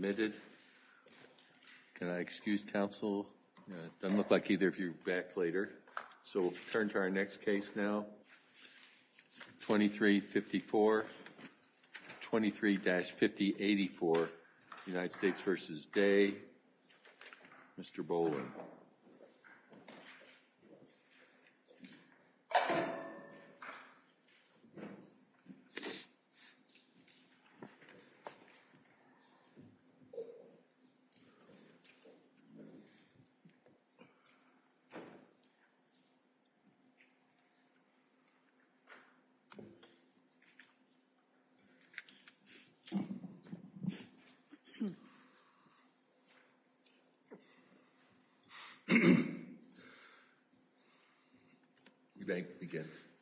2354 23-5084 U.S. v. Day 2355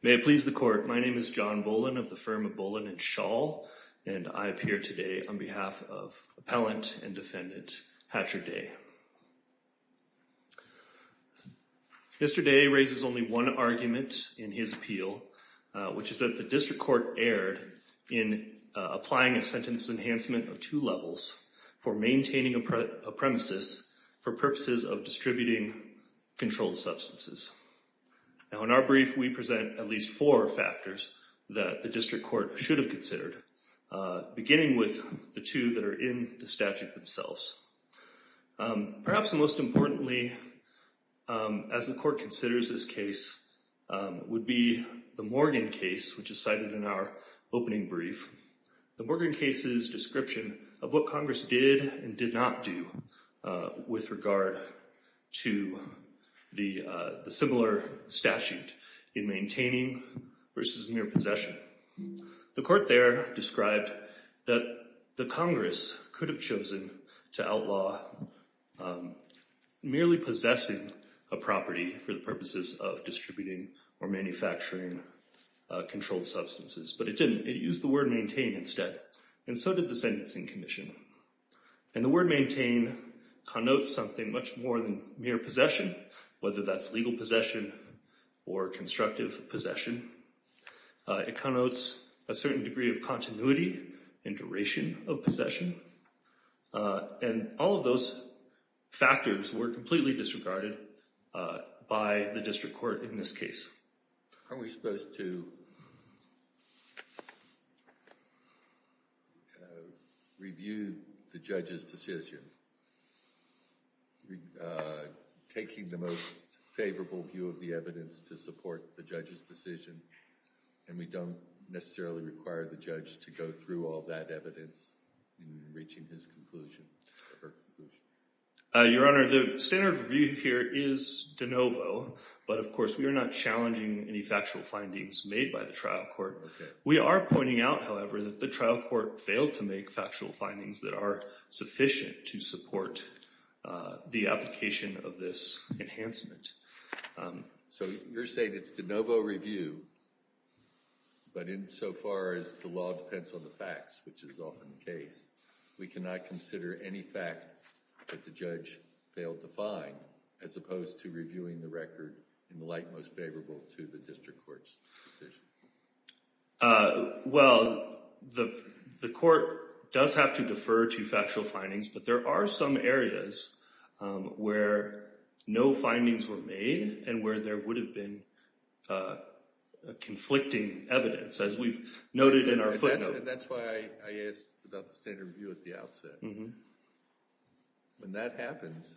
Mr. Day raises only one argument in his appeal, which is that the District Court erred in applying a sentence enhancement of two levels for maintaining a premises for purposes of distributing controlled substances. Now, in our brief, we present at least four factors that the District Court should have considered, beginning with the two that are in the statute themselves. Perhaps most importantly, as the court considers this case, would be the Morgan case, which was cited in our opening brief, the Morgan case's description of what Congress did and did not do with regard to the similar statute in maintaining versus mere possession. The court there described that the Congress could have chosen to outlaw merely possessing a property for the purposes of distributing or manufacturing controlled substances, but it didn't. It used the word maintain instead, and so did the Sentencing Commission, and the word maintain connotes something much more than mere possession, whether that's legal possession or constructive possession. It connotes a certain degree of continuity and duration of possession, and all of those factors were completely disregarded by the District Court in this case. Are we supposed to review the judge's decision, taking the most favorable view of the evidence to support the judge's decision, and we don't necessarily require the judge to go through all that evidence in reaching his conclusion or her conclusion? Your Honor, the standard review here is de novo, but of course we are not challenging any factual findings made by the trial court. We are pointing out, however, that the trial court failed to make factual findings that are sufficient to support the application of this enhancement. So you're saying it's de novo review, but insofar as the law depends on the facts, which is often the case, we cannot consider any fact that the judge failed to find, as opposed to reviewing the record in the light most favorable to the District Court's decision? Well, the court does have to defer to factual findings, but there are some areas where no findings were made and where there would have been conflicting evidence, as we've noted in our footnote. And that's why I asked about the standard review at the outset. When that happens,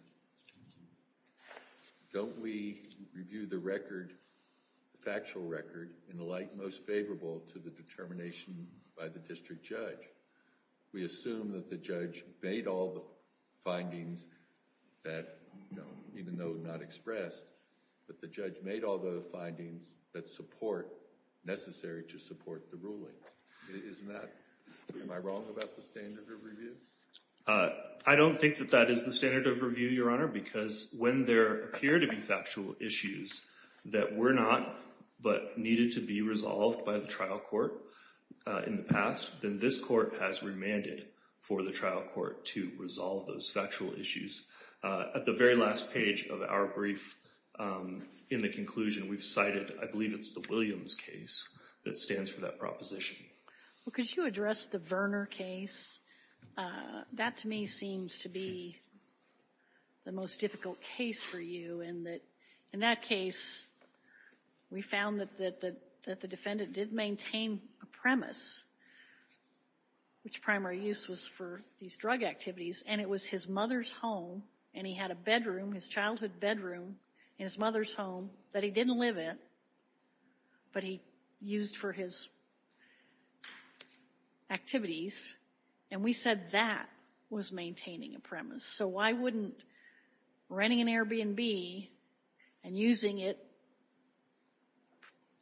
don't we review the record, the factual record, in the light most favorable to the determination by the district judge? We assume that the judge made all the findings that, even though not expressed, that the judge made all the findings that support, necessary to support the ruling. Isn't that, am I wrong about the standard of review? I don't think that that is the standard of review, Your Honor, because when there appear to be factual issues that were not, but needed to be resolved by the trial court in the past, then this court has remanded for the trial court to resolve those factual issues. At the very last page of our brief, in the conclusion, we've cited, I believe it's the Williams case that stands for that proposition. Well, could you address the Verner case? That to me seems to be the most difficult case for you in that, in that case, we found that the defendant did maintain a premise, which primary use was for these drug activities, and it was his mother's home, and he had a bedroom, his childhood bedroom, in his mother's home, that he didn't live in, but he used for his activities, and we said that was maintaining a premise. So why wouldn't renting an Airbnb and using it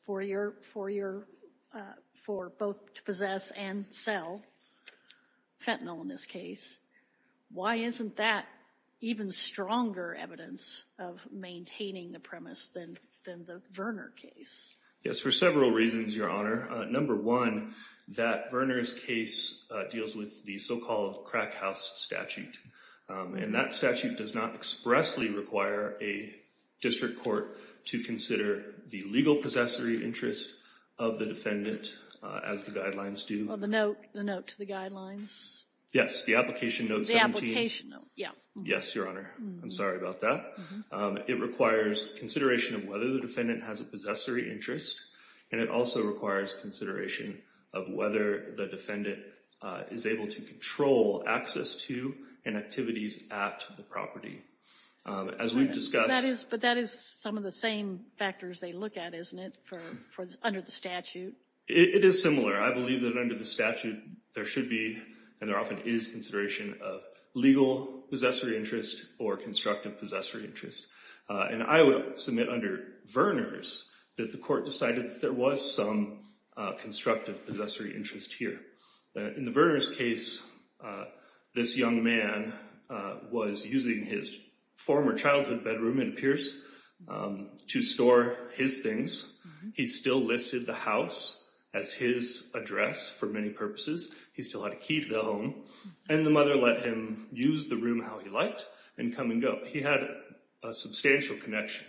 for your, for your, for both to possess and sell, fentanyl in this case, why isn't that even stronger evidence of maintaining a premise than the Verner case? Yes, for several reasons, Your Honor. Number one, that Verner's case deals with the so-called crack house statute, and that statute does not expressly require a district court to consider the legal possessory interest of the defendant as the guidelines do. Well, the note, the note to the guidelines? Yes, the application note 17. The application note, yeah. Yes, Your Honor. I'm sorry about that. It requires consideration of whether the defendant has a possessory interest, and it also requires consideration of whether the defendant is able to control access to and activities at the property. As we've discussed— That is, but that is some of the same factors they look at, isn't it, for, under the statute? It is similar. I believe that under the statute, there should be, and there often is, consideration of legal possessory interest or constructive possessory interest. And I would submit under Verner's that the court decided that there was some constructive possessory interest here. In the Verner's case, this young man was using his former childhood bedroom, it appears, to store his things. He still listed the house as his address for many purposes. He still had a key to the home, and the mother let him use the room how he liked and come and go. He had a substantial connection,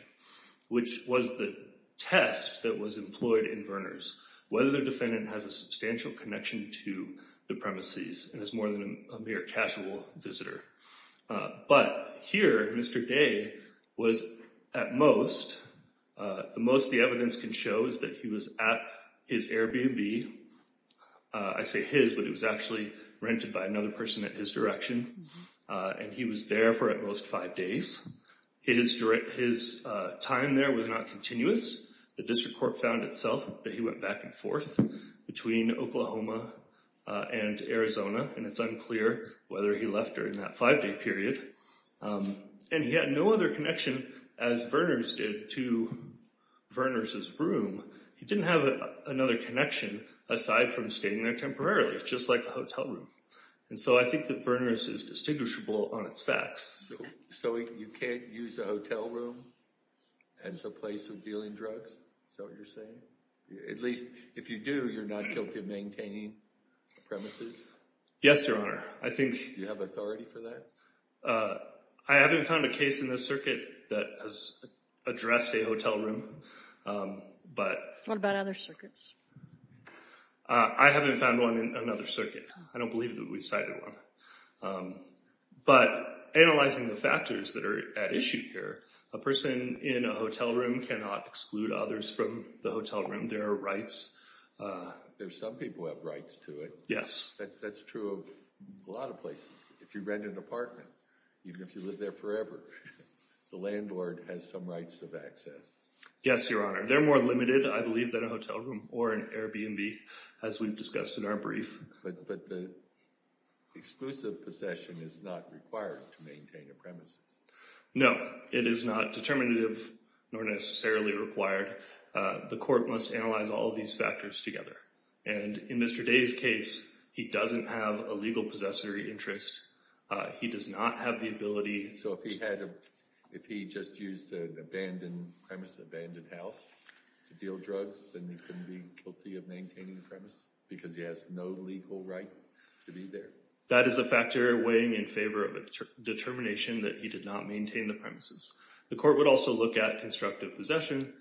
which was the test that was employed in Verner's, whether the defendant has a substantial connection to the premises and is more than a mere casual visitor. But here, Mr. Day was, at most, the most the evidence can show is that he was at his Airbnb, I say his, but it was actually rented by another person at his direction, and he was there for at most five days. His time there was not continuous. The district court found itself that he went back and forth between Oklahoma and Arizona, and it's unclear whether he left during that five-day period. And he had no other connection, as Verner's did, to Verner's room. He didn't have another connection, aside from staying there temporarily, just like a hotel room. And so I think that Verner's is distinguishable on its facts. So you can't use a hotel room as a place of dealing drugs, is that what you're saying? At least, if you do, you're not guilty of maintaining the premises? Yes, Your Honor. I think... Do you have authority for that? I haven't found a case in this circuit that has addressed a hotel room, but... What about other circuits? I haven't found one in another circuit. I don't believe that we've cited one. But analyzing the factors that are at issue here, a person in a hotel room cannot exclude others from the hotel room. There are rights... There are some people who have rights to it. Yes. That's true of a lot of places. If you rent an apartment, even if you live there forever, the landlord has some rights of access. Yes, Your Honor. They're more limited, I believe, than a hotel room or an Airbnb, as we've discussed in our brief. But the exclusive possession is not required to maintain a premises. No. It is not determinative, nor necessarily required. The court must analyze all of these factors together. In Mr. Day's case, he doesn't have a legal possessory interest. He does not have the ability... So if he just used an abandoned premise, an abandoned house, to deal drugs, then he couldn't be guilty of maintaining the premise because he has no legal right to be there? That is a factor weighing in favor of a determination that he did not maintain the premises. The court would also look at constructive possession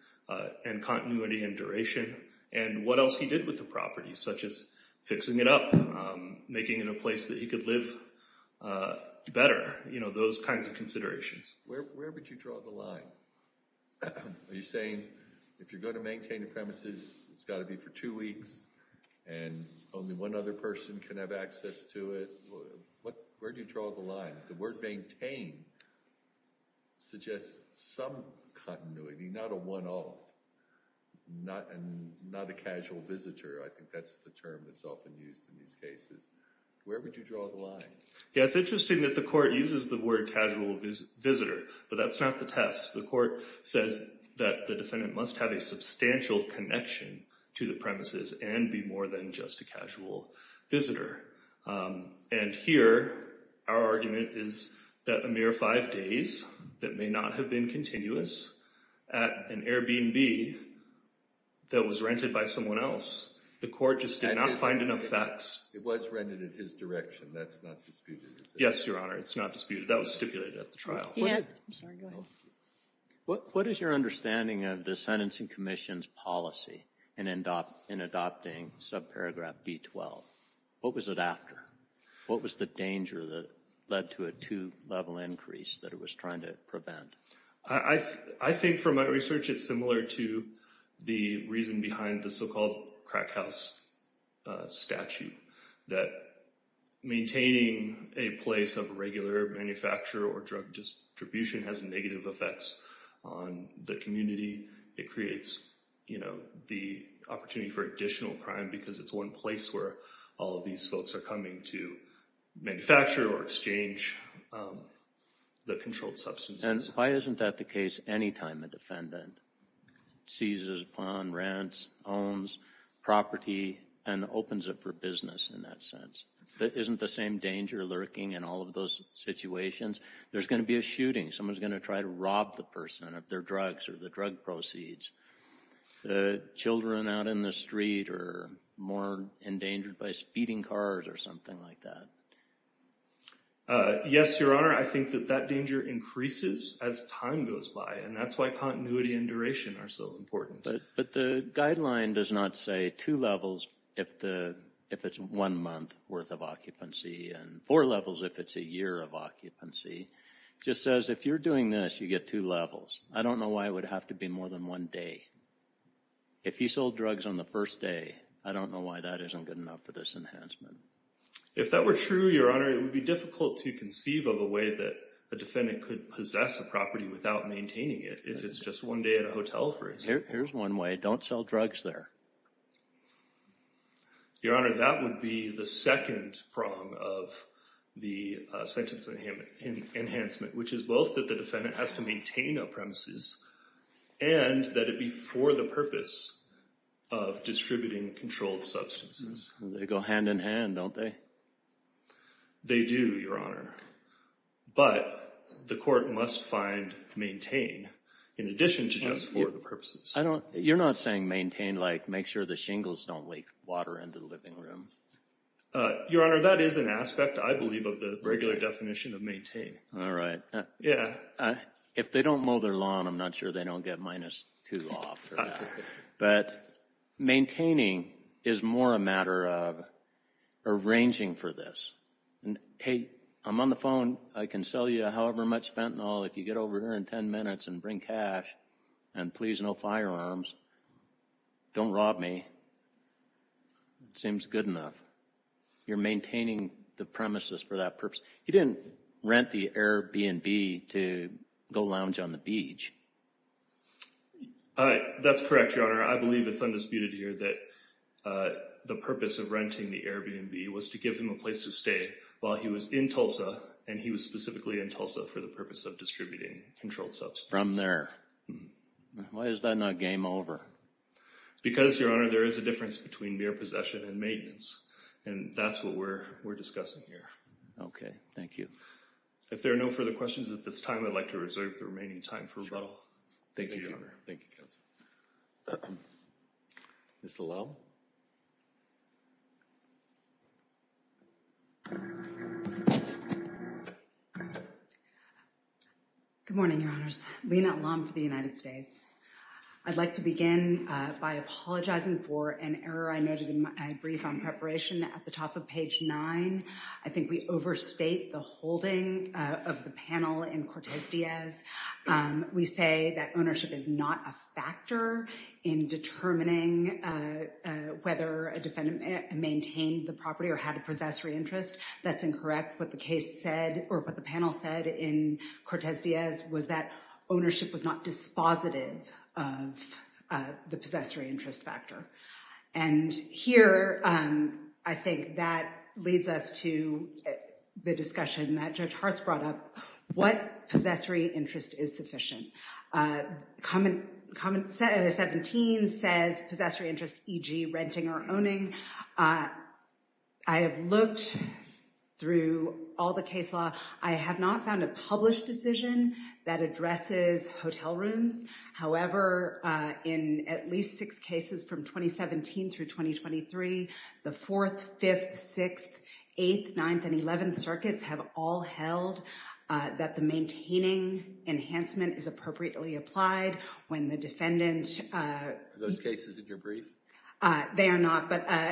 and continuity and duration, and what else he did with the property, such as fixing it up, making it a place that he could live better. Those kinds of considerations. Where would you draw the line? Are you saying, if you're going to maintain a premises, it's got to be for two weeks, and only one other person can have access to it? Where do you draw the line? The word maintain suggests some continuity, not a one-off, not a casual visitor. I think that's the term that's often used in these cases. Where would you draw the line? It's interesting that the court uses the word casual visitor, but that's not the test. The court says that the defendant must have a substantial connection to the premises and be more than just a casual visitor. And here, our argument is that a mere five days that may not have been continuous at an Airbnb that was rented by someone else, the court just did not find enough facts. It was rented in his direction. That's not disputed. Yes, Your Honor. It's not disputed. That was stipulated at the trial. What is your understanding of the Sentencing Commission's policy in adopting subparagraph B-12? What was it after? What was the danger that led to a two-level increase that it was trying to prevent? I think from my research it's similar to the reason behind the so-called crack house statute that maintaining a place of regular manufacture or drug distribution has negative effects on the community. It creates the opportunity for additional crime because it's one place where all of these folks are coming to manufacture or exchange the controlled substances. And why isn't that the case any time a defendant seizes upon, rents, owns property, and opens it for business in that sense? Isn't the same danger lurking in all of those situations? There's going to be a shooting. Someone's going to try to rob the person of their drugs or the drug proceeds. Children out in the street are more endangered by speeding cars or something like that. Yes, Your Honor. I think that that danger increases as time goes by, and that's why continuity and duration are so important. But the guideline does not say two levels if it's one month worth of occupancy and four levels if it's a year of occupancy. It just says if you're doing this, you get two levels. I don't know why it would have to be more than one day. If he sold drugs on the first day, I don't know why that isn't good enough for this enhancement. If that were true, Your Honor, it would be difficult to conceive of a way that a defendant could possess a property without maintaining it. If it's just one day at a hotel, for example. Here's one way. Don't sell drugs there. Your Honor, that would be the second prong of the sentence enhancement, which is both that the defendant has to maintain a premises and that it be for the purpose of distributing controlled substances. They go hand in hand, don't they? They do, Your Honor. But the court must find maintain in addition to just for the purposes. You're not saying maintain like make sure the shingles don't leak water into the living room. Your Honor, that is an aspect, I believe, of the regular definition of maintain. All right. Yeah. If they don't mow their lawn, I'm not sure they don't get minus two off. But maintaining is more a matter of arranging for this. Hey, I'm on the phone. I can sell you however much fentanyl if you get over here in ten minutes and bring cash. And please, no firearms. Don't rob me. It seems good enough. You're maintaining the premises for that purpose. He didn't rent the Airbnb to go lounge on the beach. All right. That's correct, Your Honor. I believe it's undisputed here that the purpose of renting the Airbnb was to give him a place to stay while he was in Tulsa, and he was specifically in Tulsa for the purpose of distributing controlled substances. From there. Why is that not game over? Because, Your Honor, there is a difference between mere possession and maintenance, and that's what we're discussing here. Okay. Thank you. If there are no further questions at this time, I'd like to reserve the remaining time for rebuttal. Thank you, Your Honor. Thank you, Counsel. Ms. Lowe? Good morning, Your Honors. Lina Lam for the United States. I'd like to begin by apologizing for an error I noted in my brief on preparation at the top of page nine. I think we overstate the holding of the panel in Cortez Diaz. We say that ownership is not a factor in determining whether a defendant maintained the property or had a possessory interest. That's incorrect. What the panel said in Cortez Diaz was that ownership was not dispositive of the possessory interest factor. And here, I think that leads us to the discussion that Judge Hartz brought up. What possessory interest is sufficient? Comment 17 says possessory interest, e.g. renting or owning. I have looked through all the case law. I have not found a published decision that addresses hotel rooms. However, in at least six cases from 2017 through 2023, the Fourth, Fifth, Sixth, Eighth, Ninth, and Eleventh circuits have all held that the maintaining enhancement is appropriately applied when the defendant… Are those cases in your brief? They are not.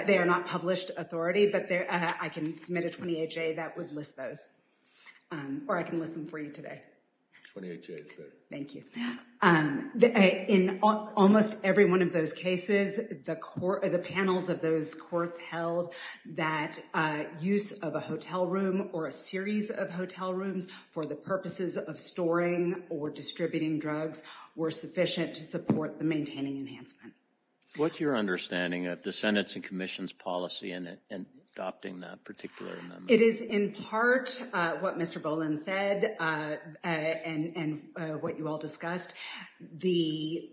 They are not published authority, but I can submit a 28-J that would list those. Or I can list them for you today. 28-J is good. Thank you. In almost every one of those cases, the panels of those courts held that use of a hotel room or a series of hotel rooms for the purposes of storing or distributing drugs were sufficient to support the maintaining enhancement. What's your understanding of the Senate's and Commission's policy in adopting that particular amendment? It is in part what Mr. Boland said and what you all discussed, the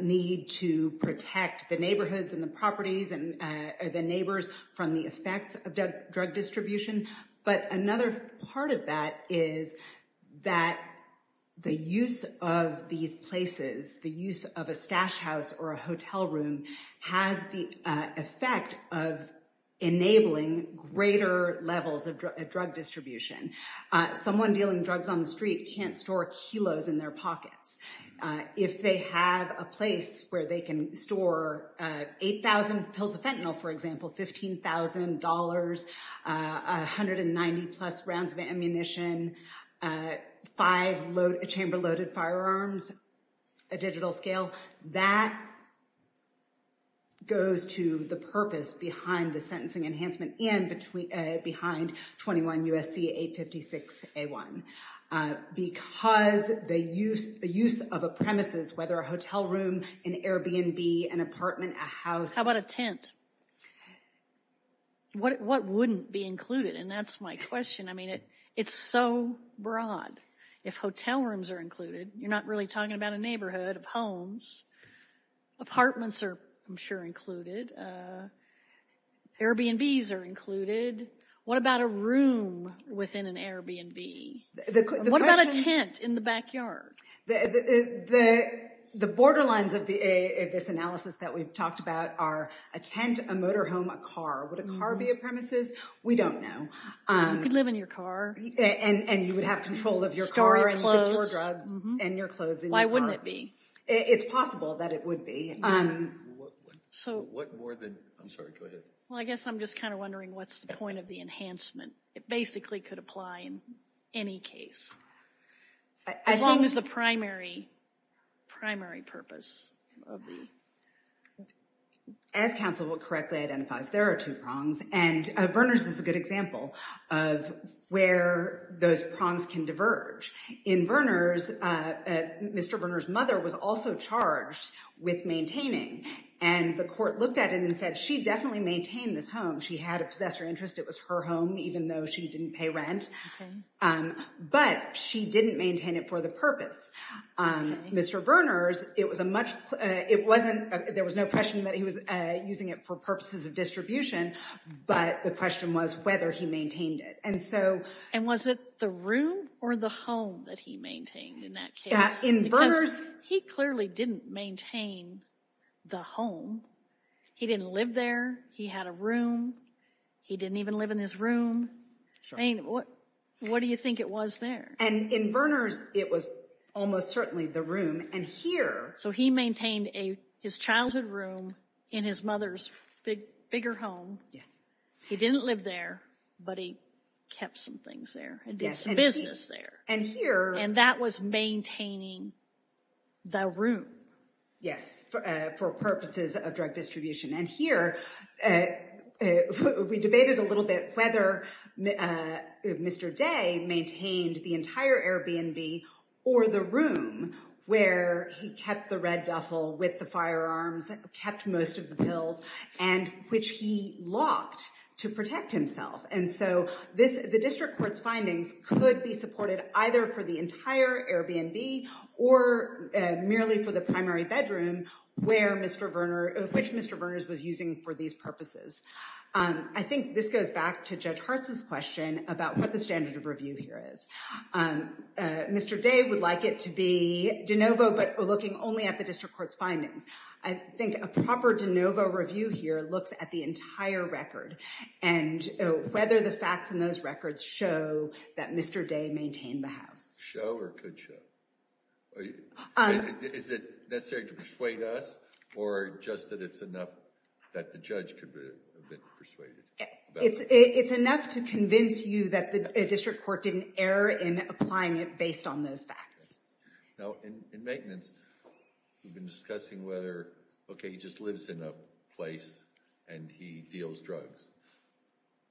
need to protect the neighborhoods and the properties and the neighbors from the effects of drug distribution. But another part of that is that the use of these places, the use of a stash house or a hotel room has the effect of enabling greater levels of drug distribution. Someone dealing drugs on the street can't store kilos in their pockets. If they have a place where they can store 8,000 pills of fentanyl, for example, $15,000, 190-plus rounds of ammunition, five chamber-loaded firearms, a digital scale, that goes to the purpose behind the sentencing enhancement and behind 21 U.S.C. 856-A1. Because the use of a premises, whether a hotel room, an Airbnb, an apartment, a house— How about a tent? What wouldn't be included? And that's my question. I mean, it's so broad. If hotel rooms are included, you're not really talking about a neighborhood of homes. Apartments are, I'm sure, included. Airbnbs are included. What about a room within an Airbnb? What about a tent in the backyard? The borderlines of this analysis that we've talked about are a tent, a motorhome, a car. Would a car be a premises? We don't know. You could live in your car. And you would have control of your car and store drugs and your clothes in your car. Why wouldn't it be? It's possible that it would be. What more than—I'm sorry, go ahead. Well, I guess I'm just kind of wondering what's the point of the enhancement. It basically could apply in any case. As long as the primary purpose of the— As counsel will correctly identify, there are two prongs. And Verner's is a good example of where those prongs can diverge. In Verner's, Mr. Verner's mother was also charged with maintaining. And the court looked at it and said she definitely maintained this home. She had a possessor interest. It was her home, even though she didn't pay rent. But she didn't maintain it for the purpose. Mr. Verner's, it was a much—it wasn't—there was no question that he was using it for purposes of distribution. But the question was whether he maintained it. And so— And was it the room or the home that he maintained in that case? In Verner's— Because he clearly didn't maintain the home. He didn't live there. He had a room. He didn't even live in his room. I mean, what do you think it was there? And in Verner's, it was almost certainly the room. And here— So he maintained his childhood room in his mother's bigger home. Yes. He didn't live there, but he kept some things there and did some business there. And here— And that was maintaining the room. Yes, for purposes of drug distribution. And here, we debated a little bit whether Mr. Day maintained the entire Airbnb or the room where he kept the red duffel with the firearms, kept most of the pills, and which he locked to protect himself. And so the district court's findings could be supported either for the entire Airbnb or merely for the primary bedroom, which Mr. Verner's was using for these purposes. I think this goes back to Judge Hartz's question about what the standard of review here is. Mr. Day would like it to be de novo, but looking only at the district court's findings. I think a proper de novo review here looks at the entire record. And whether the facts in those records show that Mr. Day maintained the house. Show or could show? Is it necessary to persuade us or just that it's enough that the judge could have been persuaded? It's enough to convince you that the district court didn't err in applying it based on those facts. In maintenance, we've been discussing whether, okay, he just lives in a place and he deals drugs.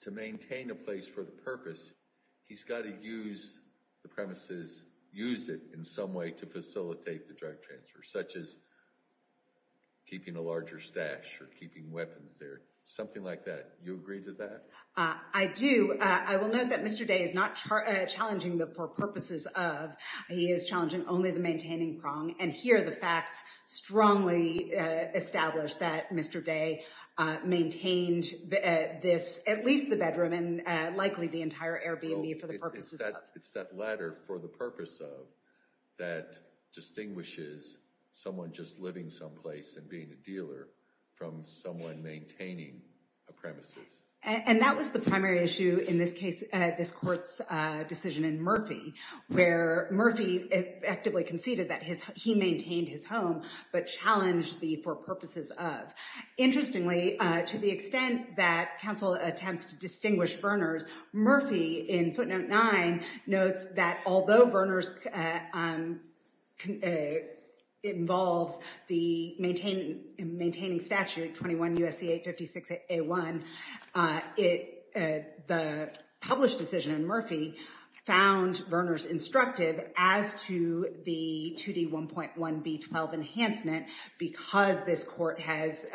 To maintain a place for the purpose, he's got to use the premises, use it in some way to facilitate the drug transfer, such as keeping a larger stash or keeping weapons there, something like that. You agree to that? I do. I will note that Mr. Day is not challenging the purposes of. He is challenging only the maintaining prong. And here the facts strongly establish that Mr. Day maintained at least the bedroom and likely the entire Airbnb for the purposes of. It's that letter, for the purpose of, that distinguishes someone just living someplace and being a dealer from someone maintaining a premises. And that was the primary issue in this case, this court's decision in Murphy, where Murphy effectively conceded that he maintained his home but challenged the for purposes of. Interestingly, to the extent that counsel attempts to distinguish Verners, Murphy in footnote nine notes that although Verners involves the maintaining statute 21 U.S.C. 856 A1, the published decision in Murphy found Verners instructive as to the 2D 1.1 B12 enhancement because this court has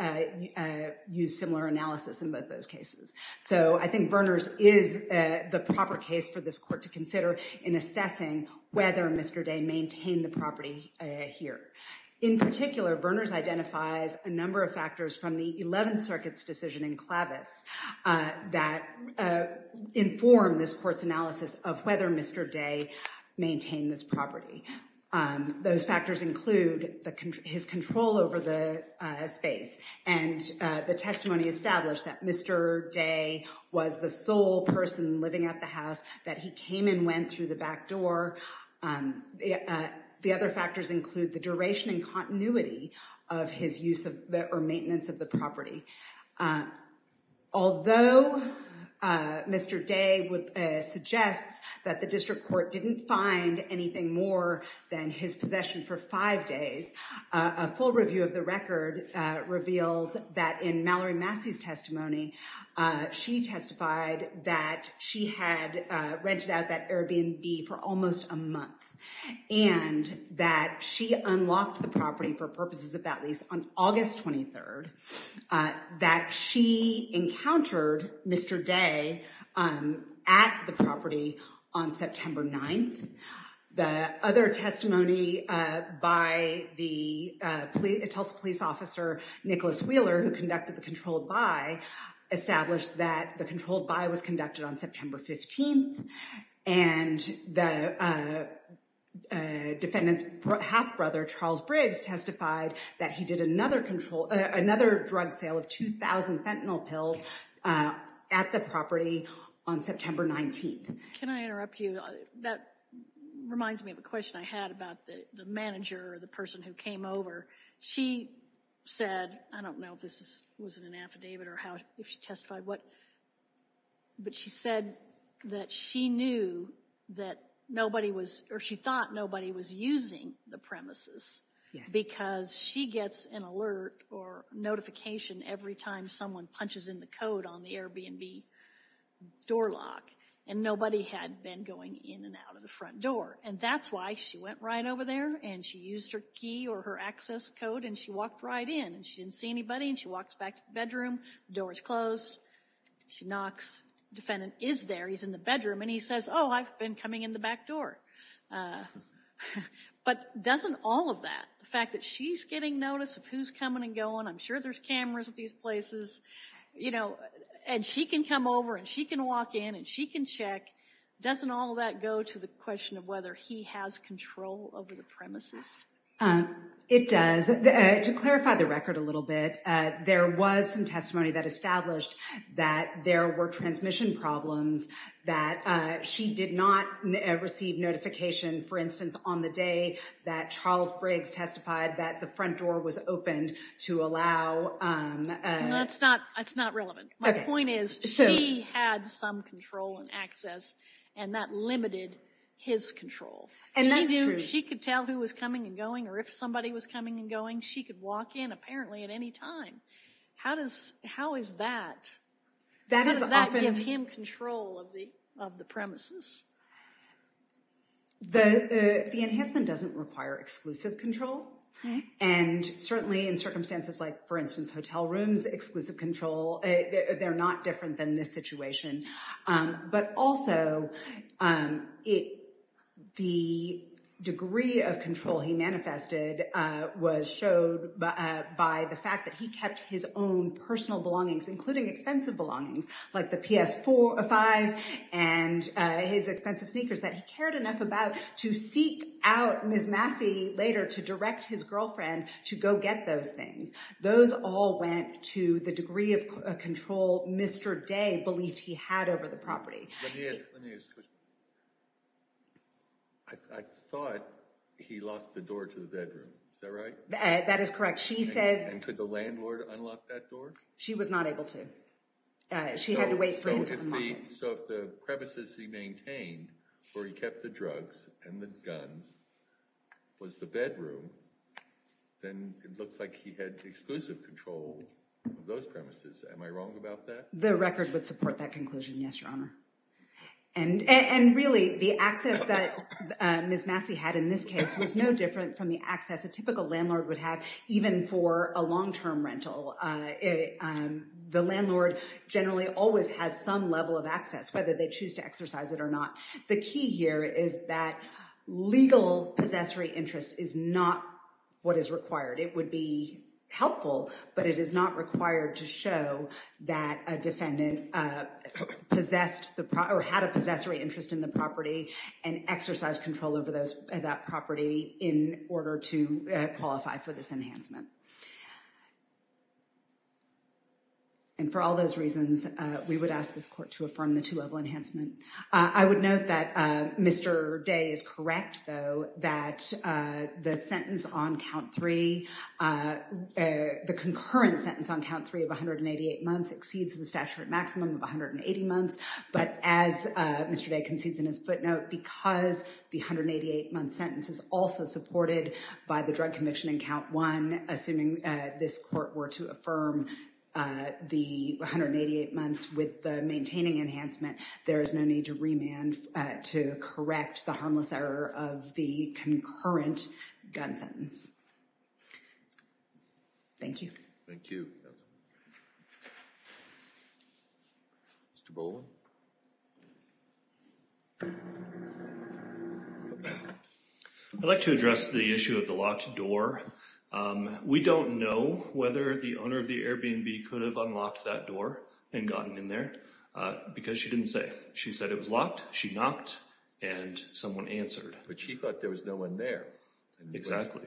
used similar analysis in both those cases. So I think Verners is the proper case for this court to consider in assessing whether Mr. Day maintained the property here. In particular, Verners identifies a number of factors from the 11th Circuit's decision in Clavis that inform this court's analysis of whether Mr. Day maintained this property. Those factors include his control over the space and the testimony established that Mr. Day was the sole person living at the house that he came and went through the back door. The other factors include the duration and continuity of his use of or maintenance of the property. Although Mr. Day would suggest that the district court didn't find anything more than his possession for five days, a full review of the record reveals that in Mallory Massey's testimony, she testified that she had rented out that Airbnb for almost a month and that she unlocked the property for purposes of that lease on August 23rd, that she encountered Mr. Day at the property on September 9th. The other testimony by the Tulsa police officer Nicholas Wheeler, who conducted the controlled buy, established that the controlled buy was conducted on September 15th, and the defendant's half-brother, Charles Briggs, testified that he did another control, another drug sale of 2,000 fentanyl pills at the property on September 19th. Can I interrupt you? That reminds me of a question I had about the manager or the person who came over. She said, I don't know if this was in an affidavit or how if she testified what, but she said that she knew that nobody was or she thought nobody was using the premises because she gets an alert or notification every time someone punches in the code on the Airbnb door lock, and nobody had been going in and out of the front door. And that's why she went right over there, and she used her key or her access code, and she walked right in, and she didn't see anybody, and she walks back to the bedroom. The door is closed. She knocks. The defendant is there. He's in the bedroom, and he says, oh, I've been coming in the back door. But doesn't all of that, the fact that she's getting notice of who's coming and going, I'm sure there's cameras at these places, you know, and she can come over and she can walk in and she can check, doesn't all of that go to the question of whether he has control over the premises? It does. To clarify the record a little bit, there was some testimony that established that there were transmission problems, that she did not receive notification, for instance, on the day that Charles Briggs testified that the front door was opened to allow. That's not relevant. My point is she had some control and access, and that limited his control. And that's true. She could tell who was coming and going, or if somebody was coming and going, she could walk in apparently at any time. How does that give him control? Control of the premises? The enhancement doesn't require exclusive control. And certainly in circumstances like, for instance, hotel rooms, exclusive control, they're not different than this situation. But also, the degree of control he manifested was showed by the fact that he kept his own personal belongings, including expensive belongings, like the PS5 and his expensive sneakers, that he cared enough about to seek out Ms. Massey later to direct his girlfriend to go get those things. Those all went to the degree of control Mr. Day believed he had over the property. Let me ask a question. I thought he locked the door to the bedroom. Is that right? That is correct. And could the landlord unlock that door? She was not able to. She had to wait for him to unlock it. So if the premises he maintained where he kept the drugs and the guns was the bedroom, then it looks like he had exclusive control of those premises. Am I wrong about that? The record would support that conclusion, yes, Your Honor. And really, the access that Ms. Massey had in this case was no different from the access a typical landlord would have even for a long-term rental. The landlord generally always has some level of access, whether they choose to exercise it or not. The key here is that legal possessory interest is not what is required. It would be helpful, but it is not required to show that a defendant possessed the property or had a possessory interest in the property and exercise control over that property in order to qualify for this enhancement. And for all those reasons, we would ask this court to affirm the two-level enhancement. I would note that Mr. Day is correct, though, that the sentence on count three, the concurrent sentence on count three of 188 months exceeds the statute maximum of 180 months. But as Mr. Day concedes in his footnote, because the 188-month sentence is also supported by the drug conviction in count one, assuming this court were to affirm the 188 months with the maintaining enhancement, there is no need to remand to correct the harmless error of the concurrent gun sentence. Thank you. Thank you. Mr. Boland? I'd like to address the issue of the locked door. We don't know whether the owner of the Airbnb could have unlocked that door and gotten in there because she didn't say. She said it was locked. She knocked, and someone answered. But she thought there was no one there. Exactly.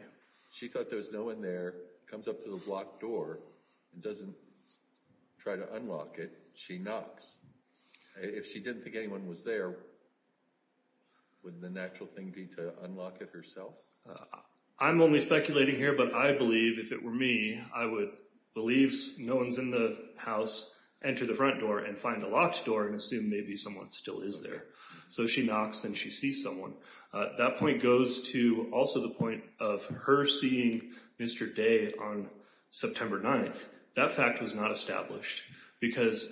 She thought there was no one there, comes up to the locked door and doesn't try to unlock it. She knocks. If she didn't think anyone was there, wouldn't the natural thing be to unlock it herself? I'm only speculating here, but I believe if it were me, I would believe no one's in the house, enter the front door and find the locked door and assume maybe someone still is there. So she knocks and she sees someone. That point goes to also the point of her seeing Mr. Day on September 9th. That fact was not established because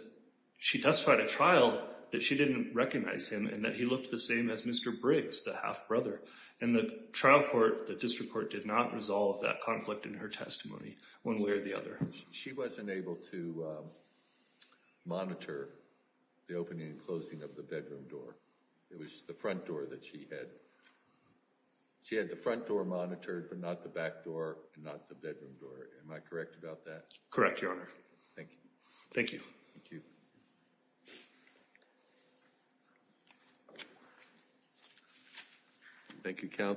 she testified at trial that she didn't recognize him and that he looked the same as Mr. Briggs, the half-brother. And the trial court, the district court, did not resolve that conflict in her testimony one way or the other. She wasn't able to monitor the opening and closing of the bedroom door. It was the front door that she had. She had the front door monitored but not the back door and not the bedroom door. Am I correct about that? Correct, Your Honor. Thank you. Thank you. Thank you, Counsel.